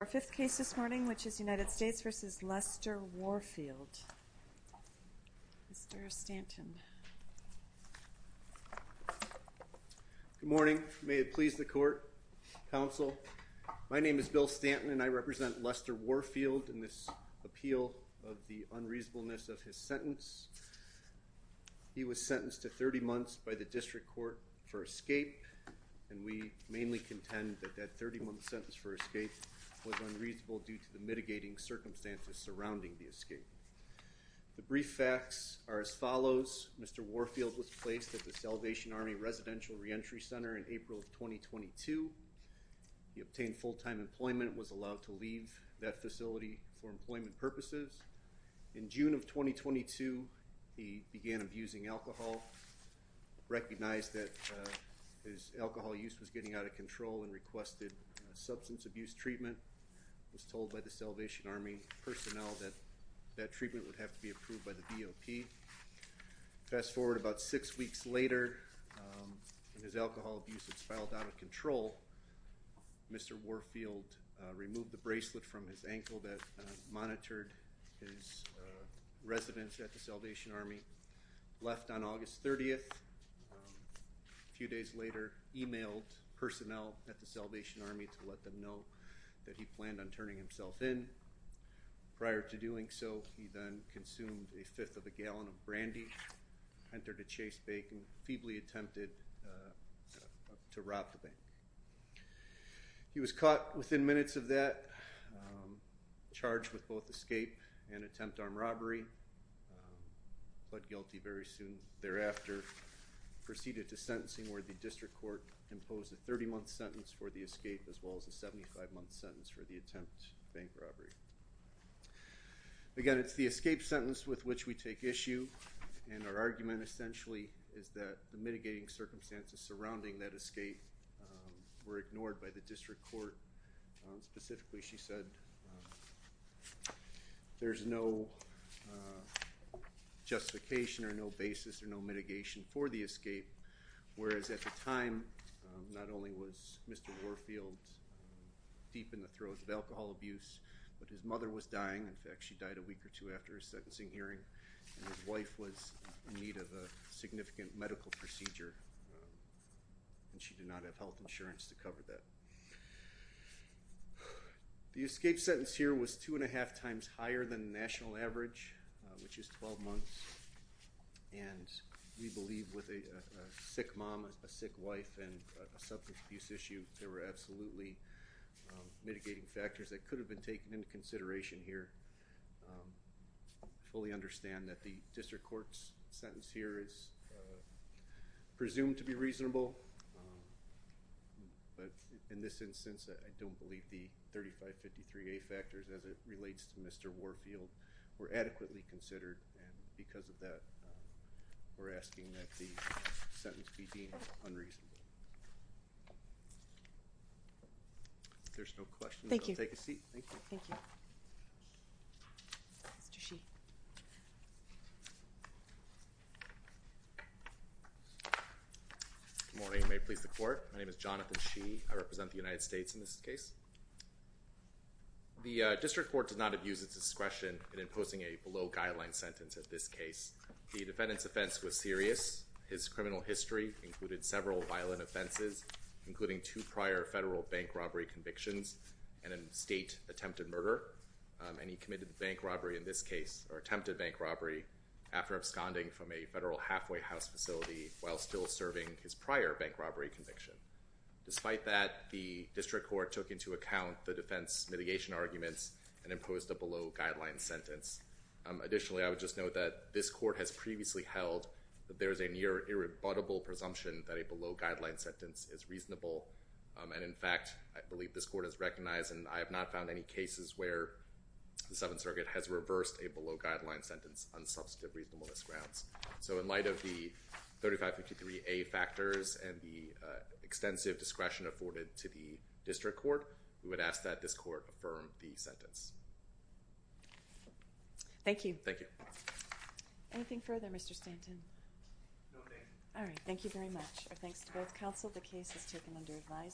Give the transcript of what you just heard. Our fifth case this morning which is United States v. Lester Warfield. Mr. Stanton. Good morning. May it please the court, counsel. My name is Bill Stanton and I represent Lester Warfield in this appeal of the unreasonableness of his sentence. He was sentenced to 30 months by the district court for escape, and we mainly contend that that 30-month sentence for escape was unreasonable due to the mitigating circumstances surrounding the escape. The brief facts are as follows. Mr. Warfield was placed at the Salvation Army Residential Reentry Center in April of 2022. He obtained full-time employment and was allowed to leave that facility for employment purposes. In June of 2022, he began abusing alcohol, recognized that his alcohol use was getting out of control, and requested substance abuse treatment. He was told by the Salvation Army personnel that that treatment would have to be approved by the DOP. Fast forward about six weeks later, his alcohol abuse had filed out of control. Mr. Warfield removed the bracelet from his ankle that monitored his residence at the Salvation Army, left on August 30th. A few days later, emailed personnel at the Salvation Army to let them know that he planned on turning himself in. Prior to doing so, he then consumed a fifth of a gallon of brandy, entered a Chase bank, and feebly attempted to rob the bank. He was caught within minutes of that, charged with both escape and attempt armed robbery, pled guilty very soon thereafter, proceeded to sentencing where the district court imposed a 30-month sentence for the escape as well as a 75-month sentence for the attempt bank robbery. Again, it's the escape sentence with which we take issue, and our argument essentially is that the mitigating circumstances surrounding that escape were ignored by the district court. Specifically, she said there's no justification or no basis or no mitigation for the escape, whereas at the time, not only was Mr. Warfield deep in the throes of alcohol abuse, but his mother was dying. In fact, she died a week or two after his sentencing hearing, and his wife was in need of a significant medical procedure, and she did not have health insurance to cover that. The escape sentence here was two and a half times higher than the national average, which is 12 months, and we believe with a sick mom, a sick wife, and a substance abuse issue, there were absolutely mitigating factors that could have been taken into consideration here. I fully understand that the district court's sentence here is presumed to be reasonable, but in this instance, I don't believe the 3553A factors as it relates to Mr. Warfield were adequately considered, and because of that, we're asking that the sentence be deemed unreasonable. If there's no questions, I'll take a seat. Thank you. Mr. Sheehy. Good morning. May it please the court? My name is Jonathan Sheehy. I represent the United States in this case. The district court did not abuse its discretion in imposing a below-guideline sentence in this case. The defendant's offense was serious. His criminal history included several violent offenses, including two prior federal bank robbery convictions and a state attempted murder, and he committed bank robbery in this case, or attempted bank robbery, after absconding from a federal halfway house facility while still serving his prior bank robbery conviction. Despite that, the district court took into account the defense mitigation arguments and imposed a below-guideline sentence. Additionally, I would just note that this court has previously held that there is a near-irrebuttable presumption that a below-guideline sentence is reasonable, and in fact, I believe this court has recognized, and I have not found any cases where the Seventh Circuit has reversed a below-guideline sentence on substantive reasonableness grounds. So in light of the 3553A factors and the extensive discretion afforded to the district court, we would ask that this court affirm the sentence. Thank you. Thank you. Anything further, Mr. Stanton? No, thank you. All right. Thank you very much. Our thanks to both counsel. The case is taken under advice.